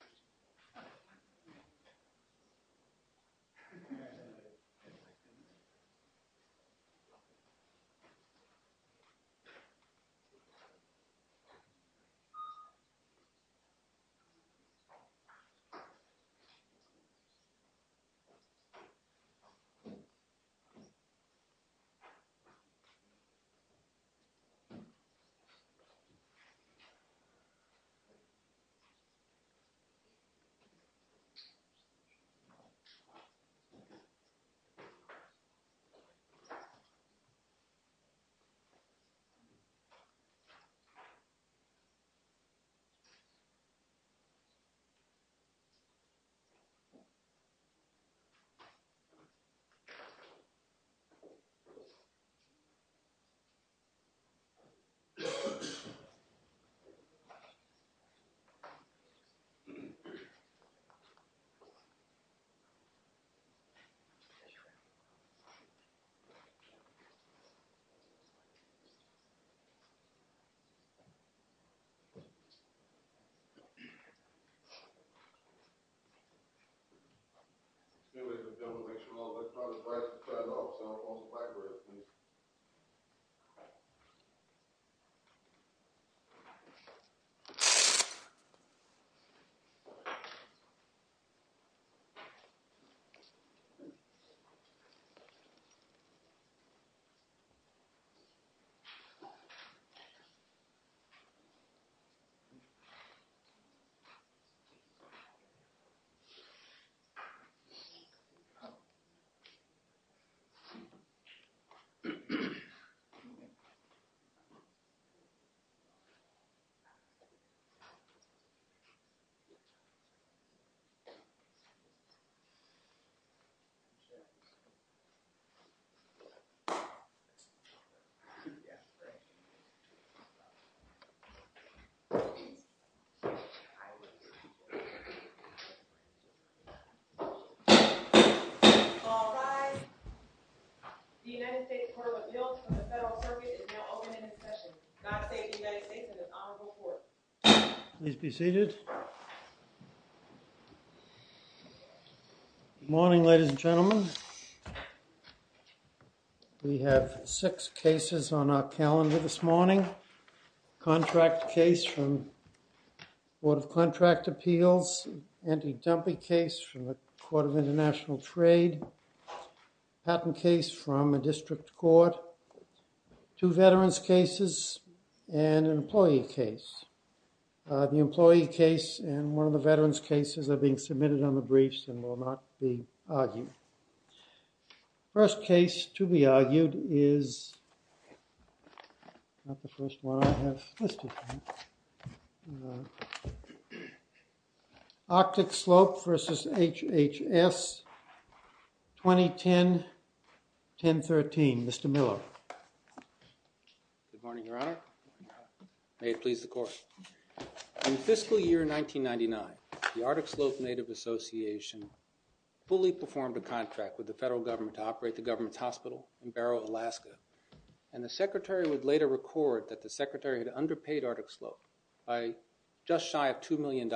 session. Good morning, ladies and gentlemen. We have six cases on our calendar this morning. Contract case from the Board of Contract Appeals, anti-dumping case from the Court of International Trade, patent case from a district court, two veterans cases, and an employee case. The employee case and one of the veterans cases are being submitted on the briefs and will not be argued. First case to be argued is, not the first one I have listed, Arctic Slope v. HHS, 2010-1013. Mr. Miller. Good morning, Your Honor. May it please the Court. In fiscal year 1999, the Arctic Slope Native Association fully performed a contract with the federal government to operate the government's hospital in Barrow, Alaska. And the Secretary would later record that the Secretary had underpaid Arctic Slope by just shy of $2 million.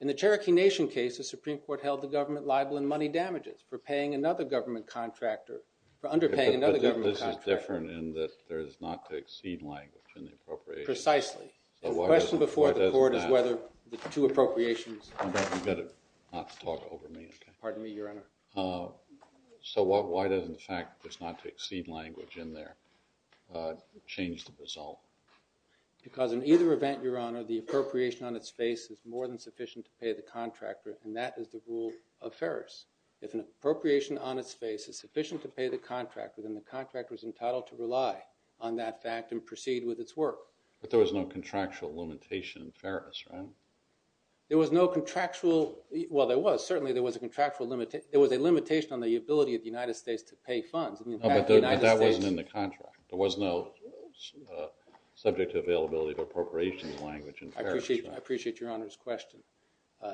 In the Cherokee Nation case, the Supreme Court held the government liable in money damages for paying another government contractor, for underpaying another government contractor. The question is different in that there is not to exceed language in the appropriations. Precisely. The question before the Court is whether the two appropriations... You better not talk over me. Pardon me, Your Honor. So why doesn't the fact that there's not to exceed language in there change the result? Because in either event, Your Honor, the appropriation on its face is more than sufficient to pay the contractor, and that is the rule of Ferris. If an appropriation on its face is sufficient to pay the contractor, then the contractor is entitled to rely on that fact and proceed with its work. But there was no contractual limitation in Ferris, right? There was no contractual... Well, there was. Certainly, there was a contractual... There was a limitation on the ability of the United States to pay funds. But that wasn't in the contract. There was no subject to availability of appropriations language in Ferris, right? I appreciate Your Honor's question.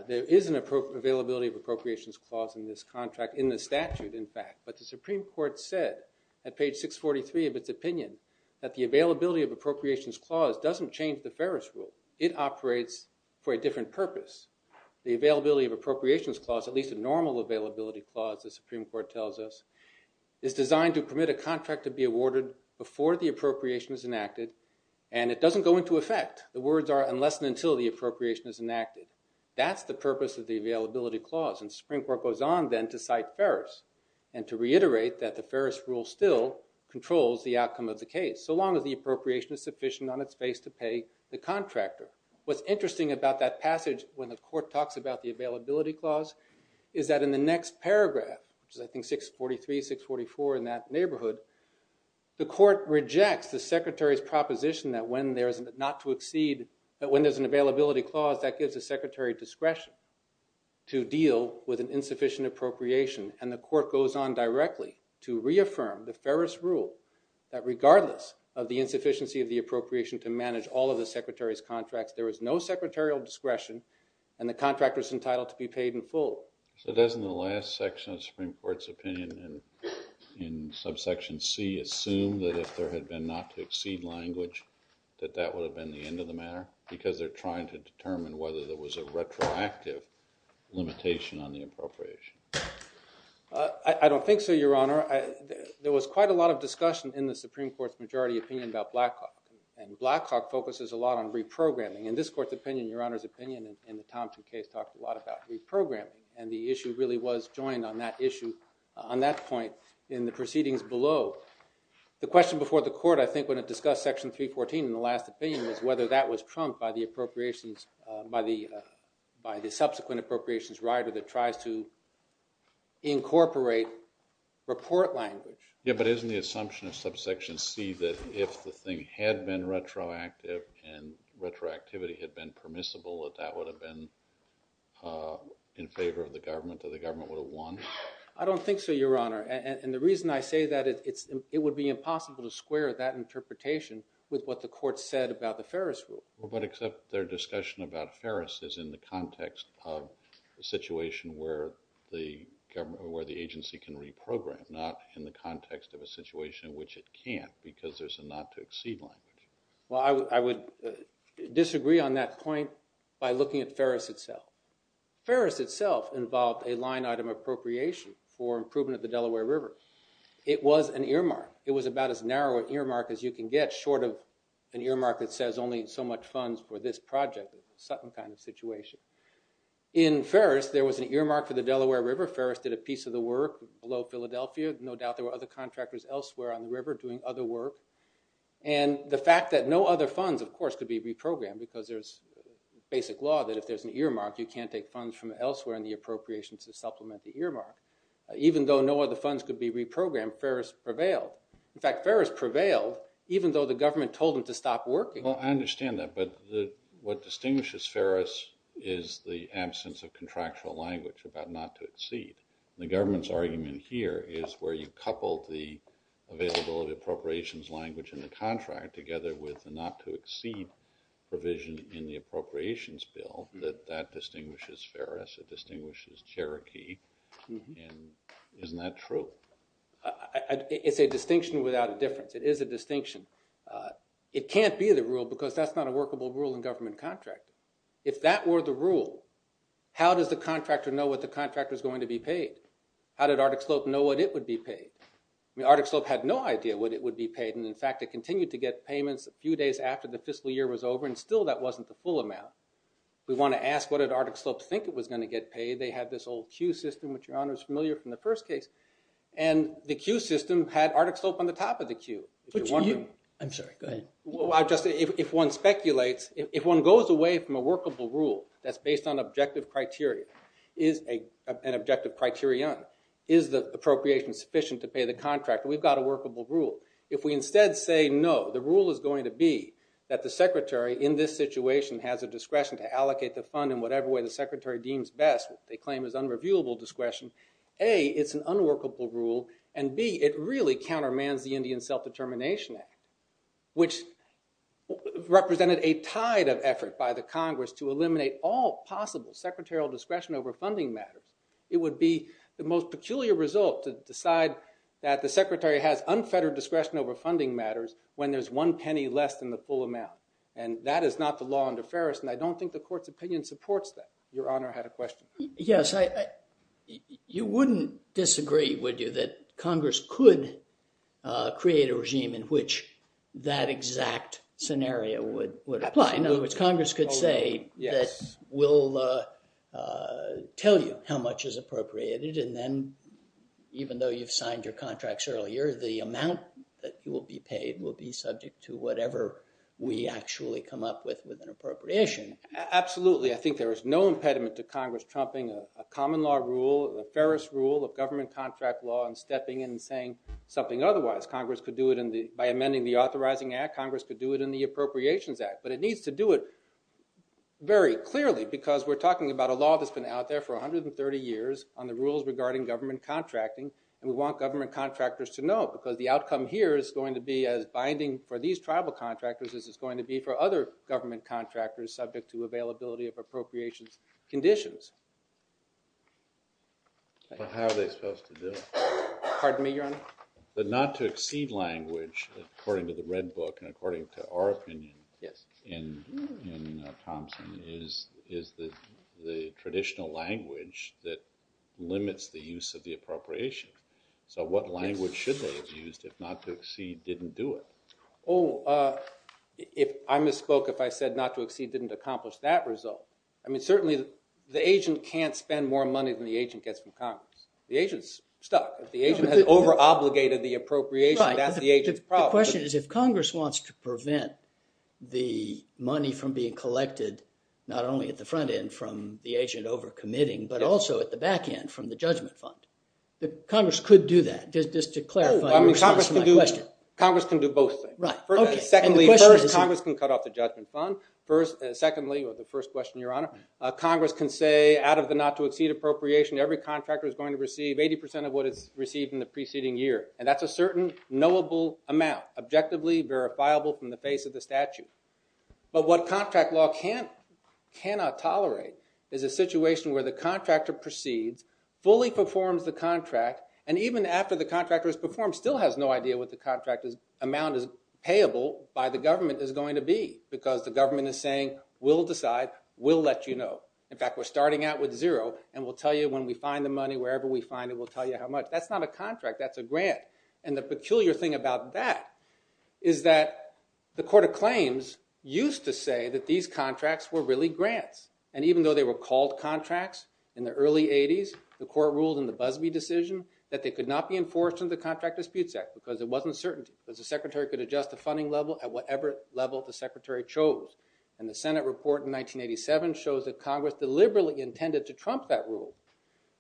There is an availability of appropriations clause in this contract, in this statute, in fact. But the Supreme Court said at page 643 of its opinion that the availability of appropriations clause doesn't change the Ferris rule. It operates for a different purpose. The availability of appropriations clause, at least a normal availability clause, the Supreme Court tells us, is designed to permit a contract to be awarded before the appropriation is enacted, and it doesn't go into effect. The words are, unless and until the appropriation is enacted. That's the purpose of the availability clause, and the Supreme Court goes on then to cite Ferris, and to reiterate that the Ferris rule still controls the outcome of the case, so long as the appropriation is sufficient on its face to pay the contractor. What's interesting about that passage when the court talks about the availability clause is that in the next paragraph, which is I think 643, 644, in that neighborhood, the when there's an availability clause, that gives the secretary discretion to deal with an insufficient appropriation, and the court goes on directly to reaffirm the Ferris rule that regardless of the insufficiency of the appropriation to manage all of the secretary's contracts, there is no secretarial discretion, and the contractor is entitled to be paid in full. So doesn't the last section of the Supreme Court's opinion in subsection C assume that if there had been not to exceed language that that would have been the end of the matter because they're trying to determine whether there was a retroactive limitation on the appropriation? I don't think so, Your Honor. There was quite a lot of discussion in the Supreme Court's majority opinion about Blackhawk, and Blackhawk focuses a lot on reprogramming. In this court's opinion, Your Honor's opinion in the Thompson case talked a lot about reprogramming, and the issue really was joined on that issue on that point in the proceedings below. The question before the court, I think, when it discussed section 314 in the last opinion was whether that was trumped by the subsequent appropriations rider that tries to incorporate report language. Yeah, but isn't the assumption of subsection C that if the thing had been retroactive and retroactivity had been permissible that that would have been in favor of the government or the government would have won? I don't think so, Your Honor. And the reason I say that, it would be impossible to square that interpretation with what the court said about the Ferris rule. But except their discussion about Ferris is in the context of a situation where the agency can reprogram, not in the context of a situation in which it can't because there's a not to exceed language. Well, I would disagree on that point by looking at Ferris itself. Ferris itself involved a line item appropriation for improvement of the Delaware River. It was an earmark. It was about as narrow an earmark as you can get short of an earmark that says only so much funds for this project. Sutton kind of situation. In Ferris, there was an earmark for the Delaware River. Ferris did a piece of the work below Philadelphia. No doubt there were other contractors elsewhere on the river doing other work. And the fact that no other funds, of course, could be reprogrammed because there's basic law that if there's an earmark, you can't take funds from elsewhere in the appropriation to supplement the earmark. Even though no other funds could be reprogrammed, Ferris prevailed. In fact, Ferris prevailed even though the government told them to stop working. Well, I understand that. But what distinguishes Ferris is the absence of contractual language about not to exceed. The government's argument here is where you couple the availability of appropriations language in the contract together with the not to exceed provision in the appropriations bill, that that distinguishes Ferris. It distinguishes Cherokee. And isn't that true? It's a distinction without a difference. It is a distinction. It can't be the rule because that's not a workable rule in government contract. If that were the rule, how does the contractor know what the contractor is going to be paid? How did Arctic Slope know what it would be paid? I mean, Arctic Slope had no idea what it would be paid. And in fact, it continued to get payments a few days after the fiscal year was over. And still, that wasn't the full amount. We want to ask, what did Arctic Slope think it was going to get paid? They had this old Q system, which your honor is familiar from the first case. And the Q system had Arctic Slope on the top of the Q. I'm sorry. Go ahead. If one speculates, if one goes away from a workable rule that's based on objective criteria, is an objective criterion, is the appropriation sufficient to pay the contractor? We've got a workable rule. If we instead say, no, the rule is going to be that the secretary in this situation has a discretion to allocate the fund in whatever way the secretary deems best, which they claim is unreviewable discretion, A, it's an unworkable rule, and B, it really countermands the Indian Self-Determination Act, which represented a tide of effort by the Congress to eliminate all possible secretarial discretion over funding matters. It would be the most peculiar result to decide that the secretary has unfettered discretion over funding matters when there's one penny less than the full amount. And that is not the law under Ferris, and I don't think the court's opinion supports that. Your honor had a question. Yes. You wouldn't disagree, would you, that Congress could create a regime in which that exact scenario would apply? In other words, Congress could say that we'll tell you how much is appropriated, and then even though you've signed your contracts earlier, the amount that you will be paid will be subject to whatever we actually come up with with an appropriation. Absolutely. I think there is no impediment to Congress trumping a common law rule, a Ferris rule of government contract law, and stepping in and saying something otherwise. Congress could do it by amending the Authorizing Act. Congress could do it in the Appropriations Act. But it needs to do it very clearly because we're talking about a law that's been out there for 130 years on the rules regarding government contracting, and we want government contractors to know because the outcome here is going to be as binding for these tribal contractors as it's going to be for other government contractors subject to availability of appropriations conditions. How are they supposed to do it? Pardon me, your honor? The not-to-exceed language, according to the Red Book and according to our opinion in Thompson, is the traditional language that limits the use of the appropriation. So what language should they have used if not-to-exceed didn't do it? Oh, I misspoke if I said not-to-exceed didn't accomplish that result. I mean, certainly the agent can't spend more money than the agent gets from Congress. The agent's stuck. If the agent has over-obligated the appropriation, that's the agent's problem. The question is if Congress wants to prevent the money from being collected not only at the front end from the agent over-committing but also at the back end from the judgment fund, Congress could do that. Just to clarify your response to my question. Congress can do both things. Secondly, Congress can cut off the judgment fund. Secondly, or the first question, your honor, Congress can say out of the not-to-exceed appropriation, every contractor is going to receive 80% of what it's received in the preceding year, and that's a certain knowable amount, objectively verifiable from the face of the statute. But what contract law cannot tolerate is a situation where the contractor proceeds, fully performs the contract, and even after the contractor has performed, still has no idea what the contract amount is payable by the government is going to be because the government is saying we'll decide, we'll let you know. In fact, we're starting out with zero, and we'll tell you when we find the money, wherever we find it, we'll tell you how much. That's not a contract. That's a grant. And the peculiar thing about that is that the Court of Claims used to say that these contracts were really grants, and even though they were called contracts in the early 80s, the court ruled in the Busbee decision that they could not be enforced under the Contract Disputes Act because there wasn't certainty, because the secretary could adjust the funding level at whatever level the secretary chose. And the Senate report in 1987 shows that Congress deliberately intended to trump that rule,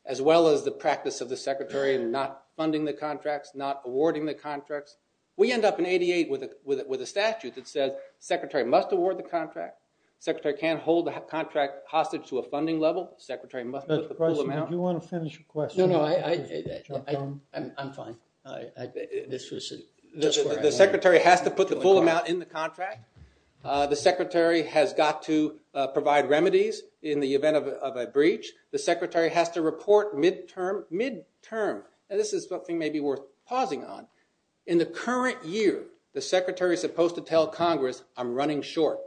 as well as the practice of the secretary not funding the contracts, not awarding the contracts. We end up in 88 with a statute that says the secretary must award the contract. The secretary can't hold the contract hostage to a funding level. The secretary must put the full amount. Do you want to finish your question? No, no, I'm fine. The secretary has to put the full amount in the contract. The secretary has got to provide remedies in the event of a breach. The secretary has to report midterm. And this is something maybe worth pausing on. In the current year, the secretary is supposed to tell Congress, I'm running short.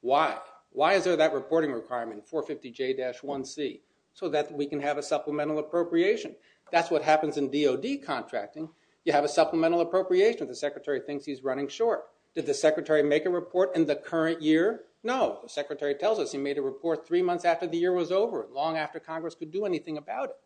Why? Why is there that reporting requirement, 450J-1C, so that we can have a supplemental appropriation? That's what happens in DOD contracting. You have a supplemental appropriation if the secretary thinks he's running short. Did the secretary make a report in the current year? No. The secretary tells us he made a report three months after the year was over, long after Congress could do anything about it.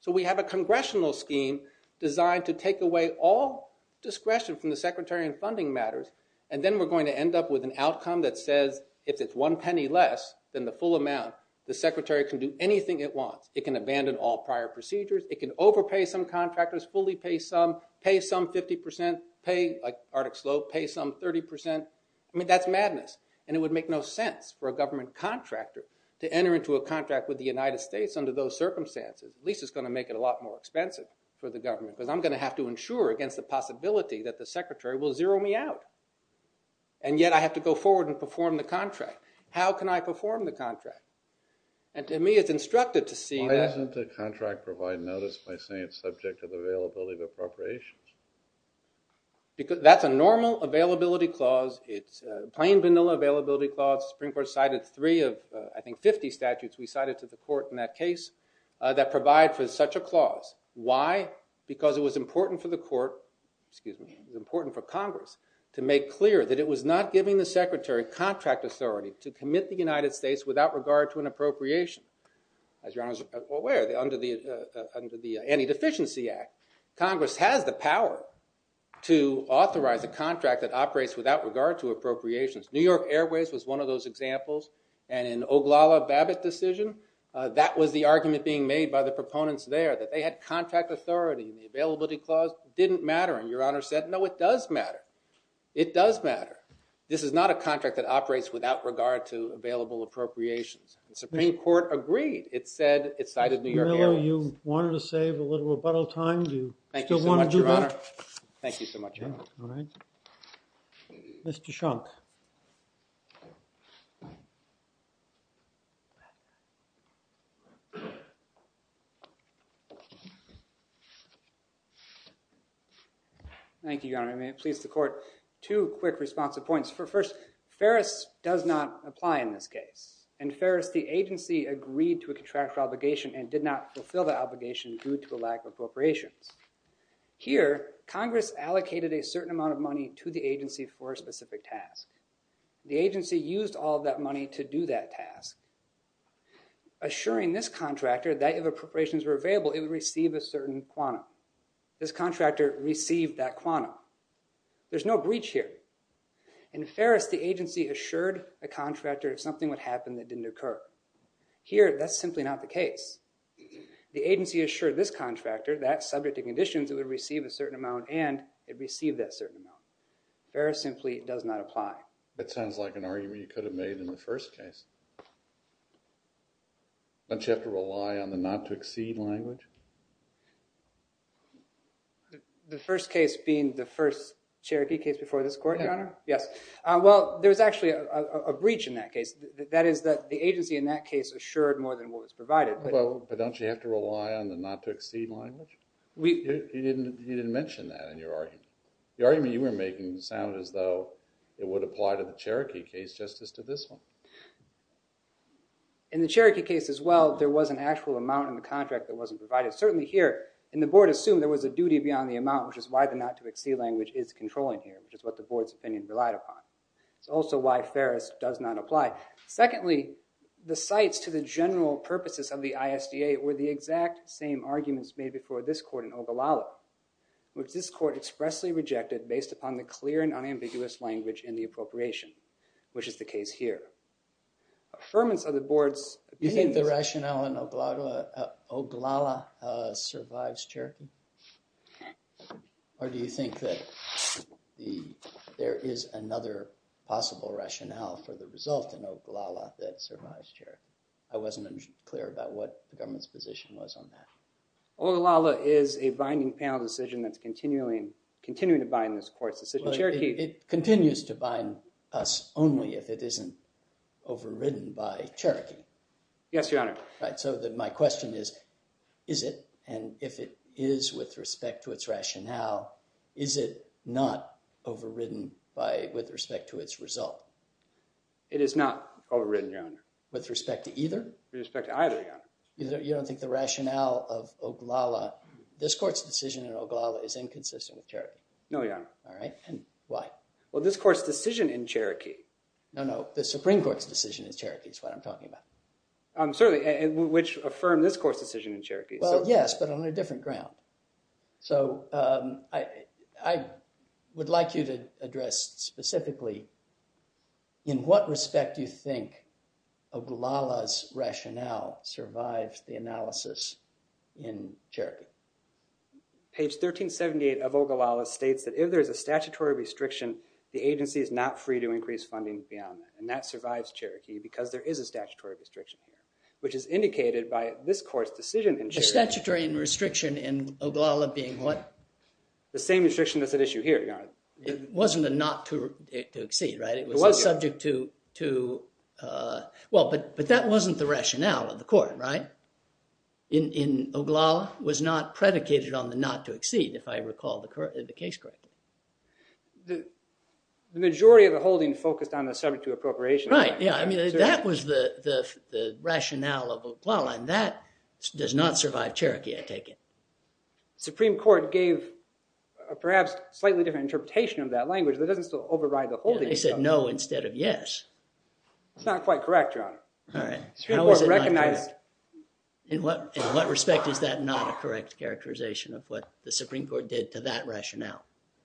So we have a congressional scheme designed to take away all discretion from the secretary in funding matters, and then we're going to end up with an outcome that says if it's one penny less than the full amount, the secretary can do anything it wants. It can abandon all prior procedures. It can overpay some contractors, fully pay some, pay some 50%, pay, like Arctic Slope, pay some 30%. I mean, that's madness. And it would make no sense for a government contractor to enter into a contract with the United States under those circumstances. At least it's going to make it a lot more expensive for the government, because I'm going to have to insure against the possibility that the secretary will zero me out. And yet I have to go forward and perform the contract. How can I perform the contract? And to me it's instructive to see that. Why doesn't the contract provide notice by saying it's subject to the availability of appropriations? That's a normal availability clause. It's a plain, vanilla availability clause. The Supreme Court cited three of, I think, 50 statutes we cited to the court in that case that provide for such a clause. Why? Because it was important for the court, excuse me, important for Congress, to make clear that it was not giving the secretary contract authority to commit the United States without regard to an appropriation. As Your Honor is aware, under the Anti-Deficiency Act, Congress has the power to authorize a contract that operates without regard to appropriations. New York Airways was one of those examples. And in Oglala-Babbitt decision, that was the argument being made by the proponents there, that they had contract authority and the availability clause didn't matter. And Your Honor said, no, it does matter. It does matter. This is not a contract that operates without regard to available appropriations. The Supreme Court agreed. It said it cited New York Airways. Miller, you wanted to save a little rebuttal time. Do you still want to do that? Thank you so much, Your Honor. Thank you so much, Your Honor. All right. Mr. Shunk. Thank you, Your Honor. May it please the court, two quick responsive points. First, Ferris does not apply in this case. In Ferris, the agency agreed to a contractual obligation and did not fulfill the obligation due to a lack of appropriations. Here, Congress allocated a certain amount of money to the agency for a specific task. The agency used all of that money to do that task, assuring this contractor that if appropriations were available, it would receive a certain quanta. This contractor received that quanta. There's no breach here. In Ferris, the agency assured a contractor if something would happen that didn't occur. Here, that's simply not the case. The agency assured this contractor that subject to conditions, it would receive a certain amount and it received that certain amount. Ferris simply does not apply. That sounds like an argument you could have made in the first case. Don't you have to rely on the not to exceed language? The first case being the first Cherokee case before this court, Your Honor? Yes. Well, there's actually a breach in that case. That is that the agency in that case assured more than what was provided. But don't you have to rely on the not to exceed language? You didn't mention that in your argument. The argument you were making sounds as though it would apply to the Cherokee case just as to this one. In the Cherokee case as well, there was an actual amount in the contract that wasn't provided. Certainly here, the board assumed there was a duty beyond the amount, which is why the not to exceed language is controlling here, which is what the board's opinion relied upon. It's also why Ferris does not apply. Secondly, the cites to the general purposes of the ISDA were the exact same arguments made before this court in Ogallala, which this court expressly rejected based upon the clear and unambiguous language in the appropriation, which is the case here. Affirmance of the board's opinion... Do you think the rationale in Ogallala survives Cherokee? Or do you think that there is another possible rationale for the result in Ogallala that survives Cherokee? I wasn't clear about what the government's position was on that. Ogallala is a binding panel decision that's continuing to bind this court's decision. It continues to bind us only if it isn't overridden by Cherokee. Yes, Your Honor. So my question is, is it? And if it is with respect to its rationale, is it not overridden with respect to its result? It is not overridden, Your Honor. With respect to either? With respect to either, Your Honor. You don't think the rationale of Ogallala, this court's decision in Ogallala is inconsistent with Cherokee? No, Your Honor. All right, and why? Well, this court's decision in Cherokee... No, no, the Supreme Court's decision in Cherokee is what I'm talking about. Certainly, which affirmed this court's decision in Cherokee. Well, yes, but on a different ground. So I would like you to address specifically, in what respect do you think Ogallala's rationale survives the analysis in Cherokee? Page 1378 of Ogallala states that if there's a statutory restriction, the agency is not free to increase funding beyond that, and that survives Cherokee because there is a statutory restriction here, which is indicated by this court's decision in Cherokee. A statutory restriction in Ogallala being what? The same restriction that's at issue here, Your Honor. It wasn't a not to exceed, right? It was subject to... Well, but that wasn't the rationale of the court, right? In Ogallala, it was not predicated on the not to exceed, if I recall the case correctly. The majority of the holding focused on the subject to appropriation. Right, yeah, I mean, that was the rationale of Ogallala, and that does not survive Cherokee, I take it. The Supreme Court gave a perhaps slightly different interpretation of that language that doesn't override the holding. They said no instead of yes. That's not quite correct, Your Honor. All right, how is it not correct? In what respect is that not a correct characterization of what the Supreme Court did to that rationale?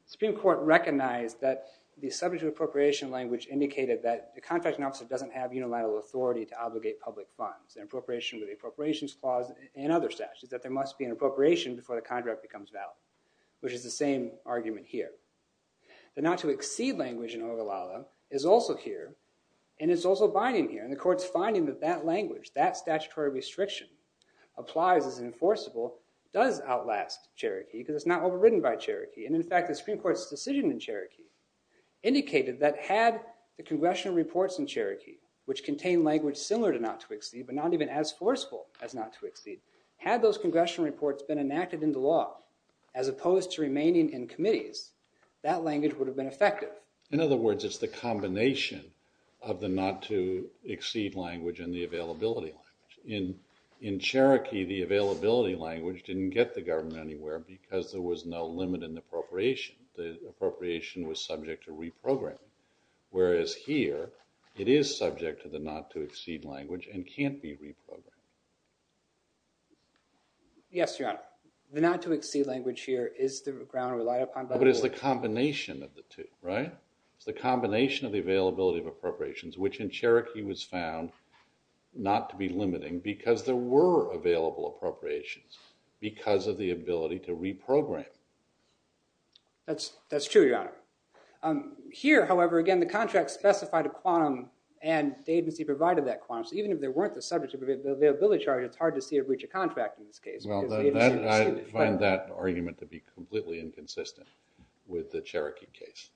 The Supreme Court recognized that the subject to appropriation language indicated that the contracting officer doesn't have unilateral authority to obligate public funds. An appropriation with the appropriations clause and other statutes, that there must be an appropriation before the contract becomes valid, which is the same argument here. The not to exceed language in Ogallala is also here, and it's also binding here, and the court's finding that that language, that statutory restriction applies as enforceable, does outlast Cherokee because it's not overridden by Cherokee. And in fact, the Supreme Court's decision in Cherokee indicated that had the congressional reports in Cherokee, which contain language similar to not to exceed but not even as forceful as not to exceed, had those congressional reports been enacted into law as opposed to remaining in committees, that language would have been effective. In other words, it's the combination of the not to exceed language and the availability language. In Cherokee, the availability language didn't get the government anywhere because there was no limit in the appropriation. The appropriation was subject to reprogramming, whereas here, it is subject to the not to exceed language and can't be reprogrammed. Yes, Your Honor. The not to exceed language here is the ground relied upon by the court. But it's the combination of the two, right? It's the combination of the availability of appropriations, which in Cherokee was found not to be limiting because there were available appropriations because of the ability to reprogram. That's true, Your Honor. Here, however, again, the contract specified a quantum and the agency provided that quantum. So even if there weren't the subject of the availability charge, it's hard to see a breach of contract in this case. Well, I find that argument to be completely inconsistent with the Cherokee case.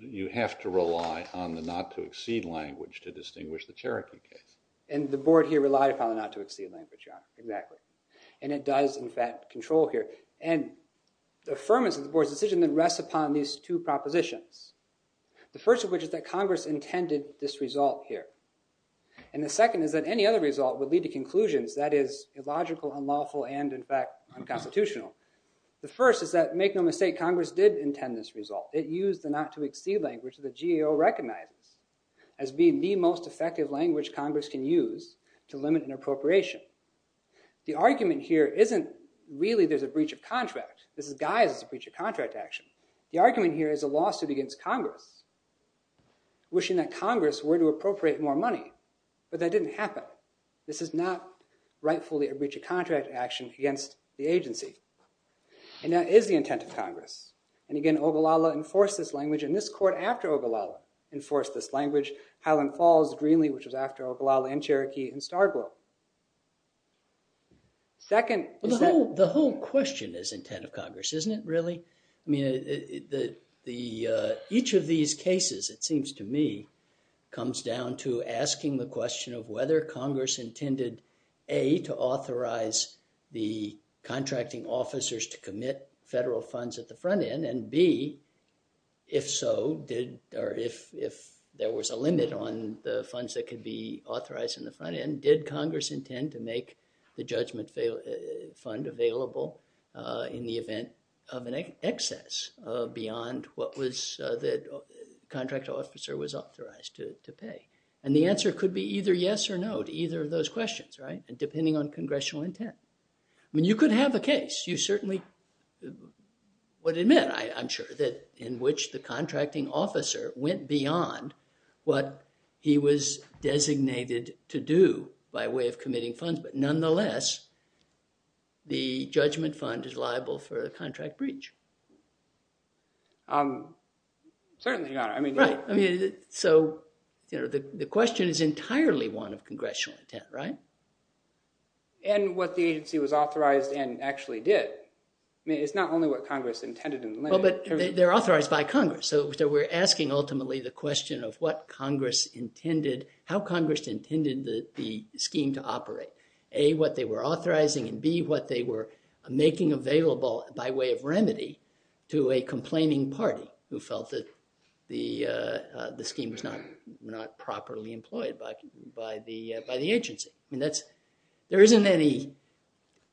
You have to rely on the not to exceed language to distinguish the Cherokee case. And the board here relied upon the not to exceed language, Your Honor. Exactly. And it does, in fact, control here. And the firmness of the board's decision then rests upon these two propositions. The first of which is that Congress intended this result here. And the second is that any other result would lead to conclusions, that is, illogical, unlawful, and, in fact, unconstitutional. The first is that, make no mistake, Congress did intend this result. It used the not to exceed language that the GAO recognizes as being the most effective language Congress can use to limit an appropriation. The argument here isn't really there's a breach of contract. This is guised as a breach of contract action. The argument here is a lawsuit against Congress, wishing that Congress were to appropriate more money. But that didn't happen. This is not rightfully a breach of contract action against the agency. And that is the intent of Congress. And, again, Ogallala enforced this language. And this court, after Ogallala, enforced this language. Highland Falls, Greenlee, which was after Ogallala, and Cherokee, and Starborough. The whole question is intent of Congress, isn't it, really? I mean, each of these cases, it seems to me, comes down to asking the question of whether Congress intended, A, to authorize the contracting officers to commit federal funds at the front end. And, B, if so, or if there was a limit on the funds that could be authorized in the front end, did Congress intend to make the judgment fund available in the event of an excess beyond what the contract officer was authorized to pay? And the answer could be either yes or no to either of those questions, right? And depending on congressional intent. I mean, you could have a case. You certainly would admit, I'm sure, that in which the contracting officer went beyond what he was designated to do by way of committing funds. But nonetheless, the judgment fund is liable for the contract breach. Certainly not. Right. So the question is entirely one of congressional intent, right? And what the agency was authorized and actually did. I mean, it's not only what Congress intended in the limit. Well, but they're authorized by Congress. So we're asking, ultimately, the question of what Congress intended, how Congress intended the scheme to operate. A, what they were authorizing, and B, what they were making available by way of remedy to a complaining party who felt that the scheme was not properly employed by the agency. I mean, there isn't any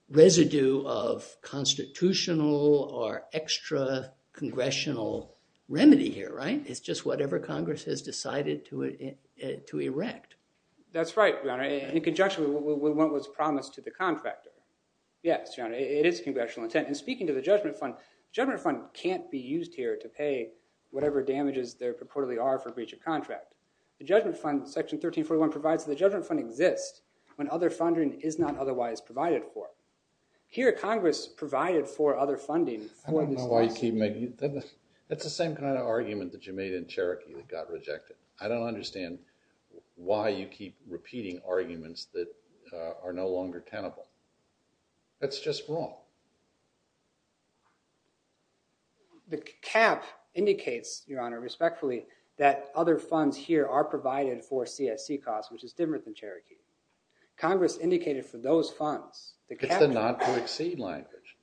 residue of constitutional or extra-congressional remedy here, right? It's just whatever Congress has decided to erect. That's right, Your Honor. In conjunction with what was promised to the contractor. Yes, Your Honor. It is congressional intent. And speaking to the judgment fund, judgment fund can't be used here to pay whatever damages there purportedly are for breach of contract. The judgment fund, section 1341, provides that the judgment fund exists when other funding is not otherwise provided for. Here, Congress provided for other funding. I don't know why you keep making that. It's the same kind of argument that you made in Cherokee that got rejected. I don't understand why you keep repeating arguments that are no longer tenable. That's just wrong. The cap indicates, Your Honor, respectfully, that other funds here are provided for CSC costs, which is dimmer than Cherokee. Congress indicated for those funds. It's the not to exceed language.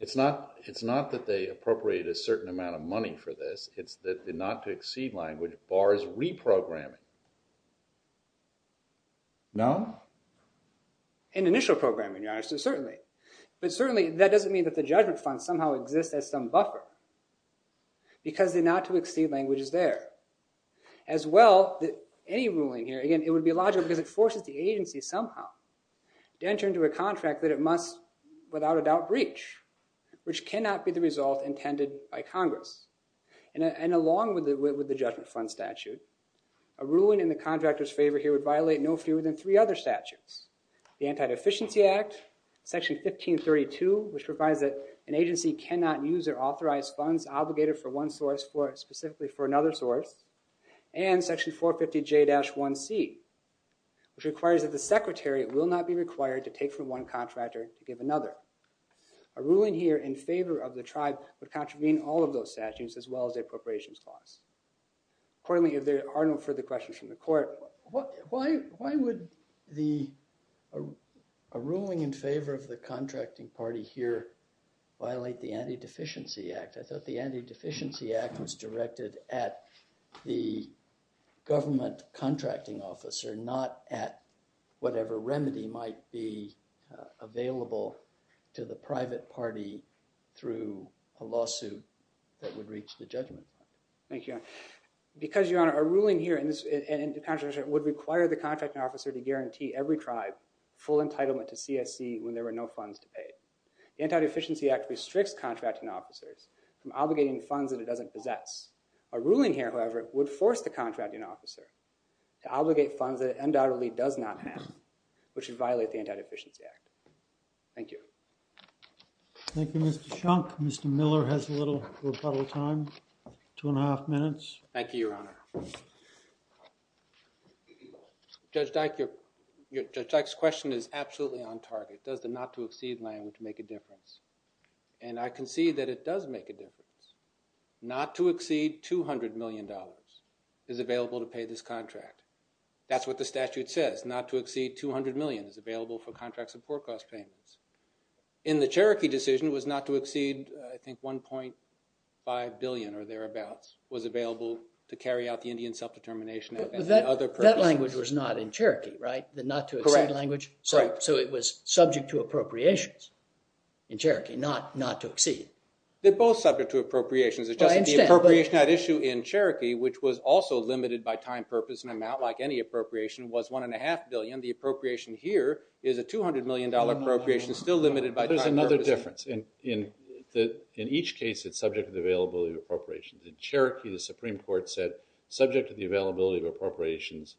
It's not that they appropriated a certain amount of money for this. It's that the not to exceed language bars reprogramming. No? In initial programming, Your Honor, certainly. But certainly, that doesn't mean that the judgment fund somehow exists as some buffer. Because the not to exceed language is there. As well, any ruling here, again, it would be logical because it forces the agency somehow to enter into a contract that it must, without a doubt, breach, which cannot be the result intended by Congress. And along with the judgment fund statute, a ruling in the contractor's favor here would violate no fewer than three other statutes. The Anti-Deficiency Act, Section 1532, which provides that an agency cannot use their authorized funds obligated for one source specifically for another source, and Section 450J-1C, which requires that the secretary will not be required to take from one contractor to give another. A ruling here in favor of the tribe would contravene all of those statutes, as well as their appropriations clause. Accordingly, if there are no further questions from the court, why would a ruling in favor of the contracting party here violate the Anti-Deficiency Act? I thought the Anti-Deficiency Act was directed at the government contracting officer, not at whatever remedy might be available to the private party through a lawsuit that would reach the judgment fund. Thank you, Your Honor. Because, Your Honor, a ruling here in this contract would require the contracting officer to guarantee every tribe full entitlement to CSC when there were no funds to pay. The Anti-Deficiency Act restricts contracting officers from obligating funds that it doesn't possess. A ruling here, however, would force the contracting officer to obligate funds that it undoubtedly does not have, which would violate the Anti-Deficiency Act. Thank you. Thank you, Mr. Shunk. Mr. Miller has a little rebuttal time, two and a half minutes. Thank you, Your Honor. Judge Dyke, Judge Dyke's question is absolutely on target. Does the not to exceed language make a difference? And I can see that it does make a difference. Not to exceed $200 million is available to pay this contract. That's what the statute says. Not to exceed $200 million is available for contracts of poor cost payments. In the Cherokee decision, it was not to exceed, I think, $1.5 billion or thereabouts was available to carry out the Indian self-determination and other purposes. That language was not in Cherokee, right? The not to exceed language? Correct. So it was subject to appropriations in Cherokee, not to exceed. They're both subject to appropriations. The appropriation at issue in Cherokee, which was also limited by time, purpose, and amount like any appropriation, was $1.5 billion. The appropriation here is a $200 million appropriation, still limited by time, purpose. But there's another difference. In each case, it's subject to the availability of appropriations. In Cherokee, the Supreme Court said, subject to the availability of appropriations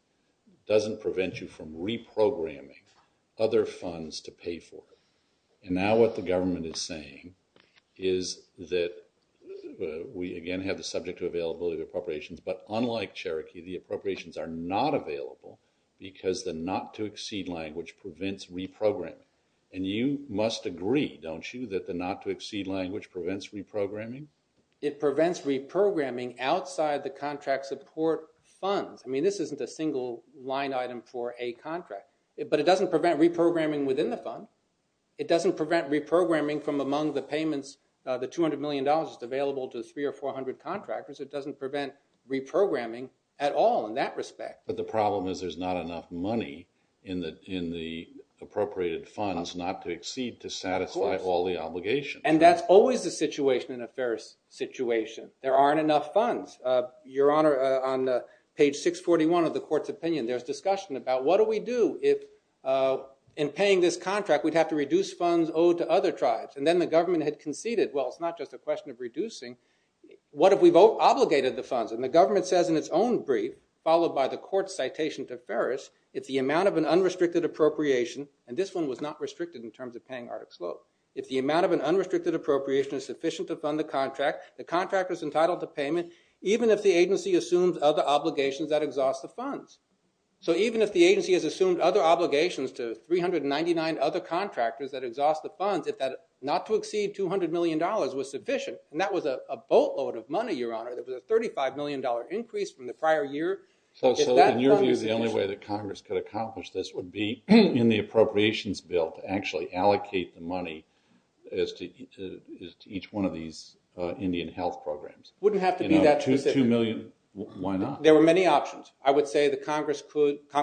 doesn't prevent you from reprogramming other funds to pay for it. And now what the government is saying is that we, again, have the subject to availability of appropriations. But unlike Cherokee, the appropriations are not available because the not to exceed language prevents reprogramming. And you must agree, don't you, that the not to exceed language prevents reprogramming? It prevents reprogramming outside the contract support funds. I mean, this isn't a single line item for a contract. But it doesn't prevent reprogramming within the fund. It doesn't prevent reprogramming from among the payments the $200 million is available to three or 400 contractors. It doesn't prevent reprogramming at all in that respect. But the problem is there's not enough money in the appropriated funds not to exceed to satisfy all the obligations. And that's always the situation in a fair situation. There aren't enough funds. Your Honor, on page 641 of the court's opinion, there's discussion about what do we do if, in paying this contract, we'd have to reduce funds owed to other tribes? And then the government had conceded, well, it's not just a question of reducing. What if we've obligated the funds? And the government says in its own brief, followed by the court's citation to Ferris, if the amount of an unrestricted appropriation, and this one was not restricted in terms of paying Artic Slope, if the amount of an unrestricted appropriation is sufficient to fund the contract, the contract is entitled to payment even if the agency assumes other obligations that exhaust the funds. So even if the agency has assumed other obligations to 399 other contractors that exhaust the funds, if that not to exceed $200 million was sufficient, and that was a boatload of money, Your Honor, that was a $35 million increase from the prior year. So in your view, the only way that Congress could accomplish this would be in the appropriations bill to actually allocate the money as to each one of these Indian health programs. Wouldn't have to be that specific. Why not? There were many options. I would say that Congress could do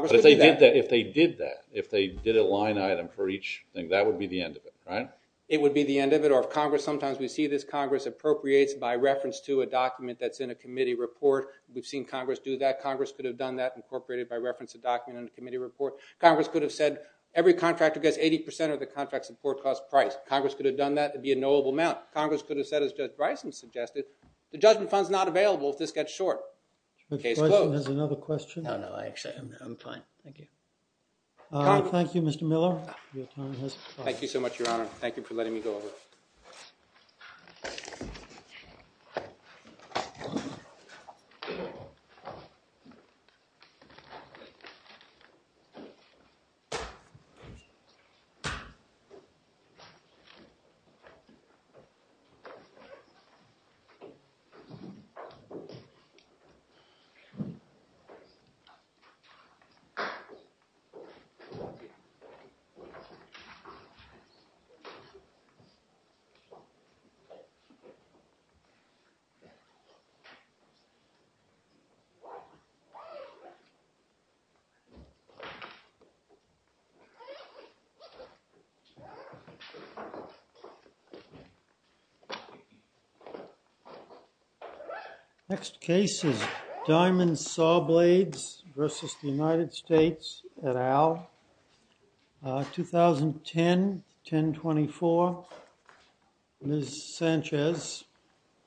that. If they did that, if they did a line item for each thing, that would be the end of it, right? It would be the end of it. Or if Congress, sometimes we see this, Congress appropriates by reference to a document that's in a committee report. We've seen Congress do that. Congress could have done that, incorporated by reference to a document in a committee report. Congress could have said, every contractor gets 80% of the contract support cost price. Congress could have done that. It'd be a knowable amount. Congress could have said, as Judge Bryson suggested, the judgment fund's not available if this gets short. There's another question? No, no. Actually, I'm fine. Thank you. Thank you, Mr. Miller. Your time has expired. Thank you so much, Your Honor. Thank you for letting me go over. Thank you. Mr. Sanchez versus the United States et al, 2010-1024. Ms. Sanchez.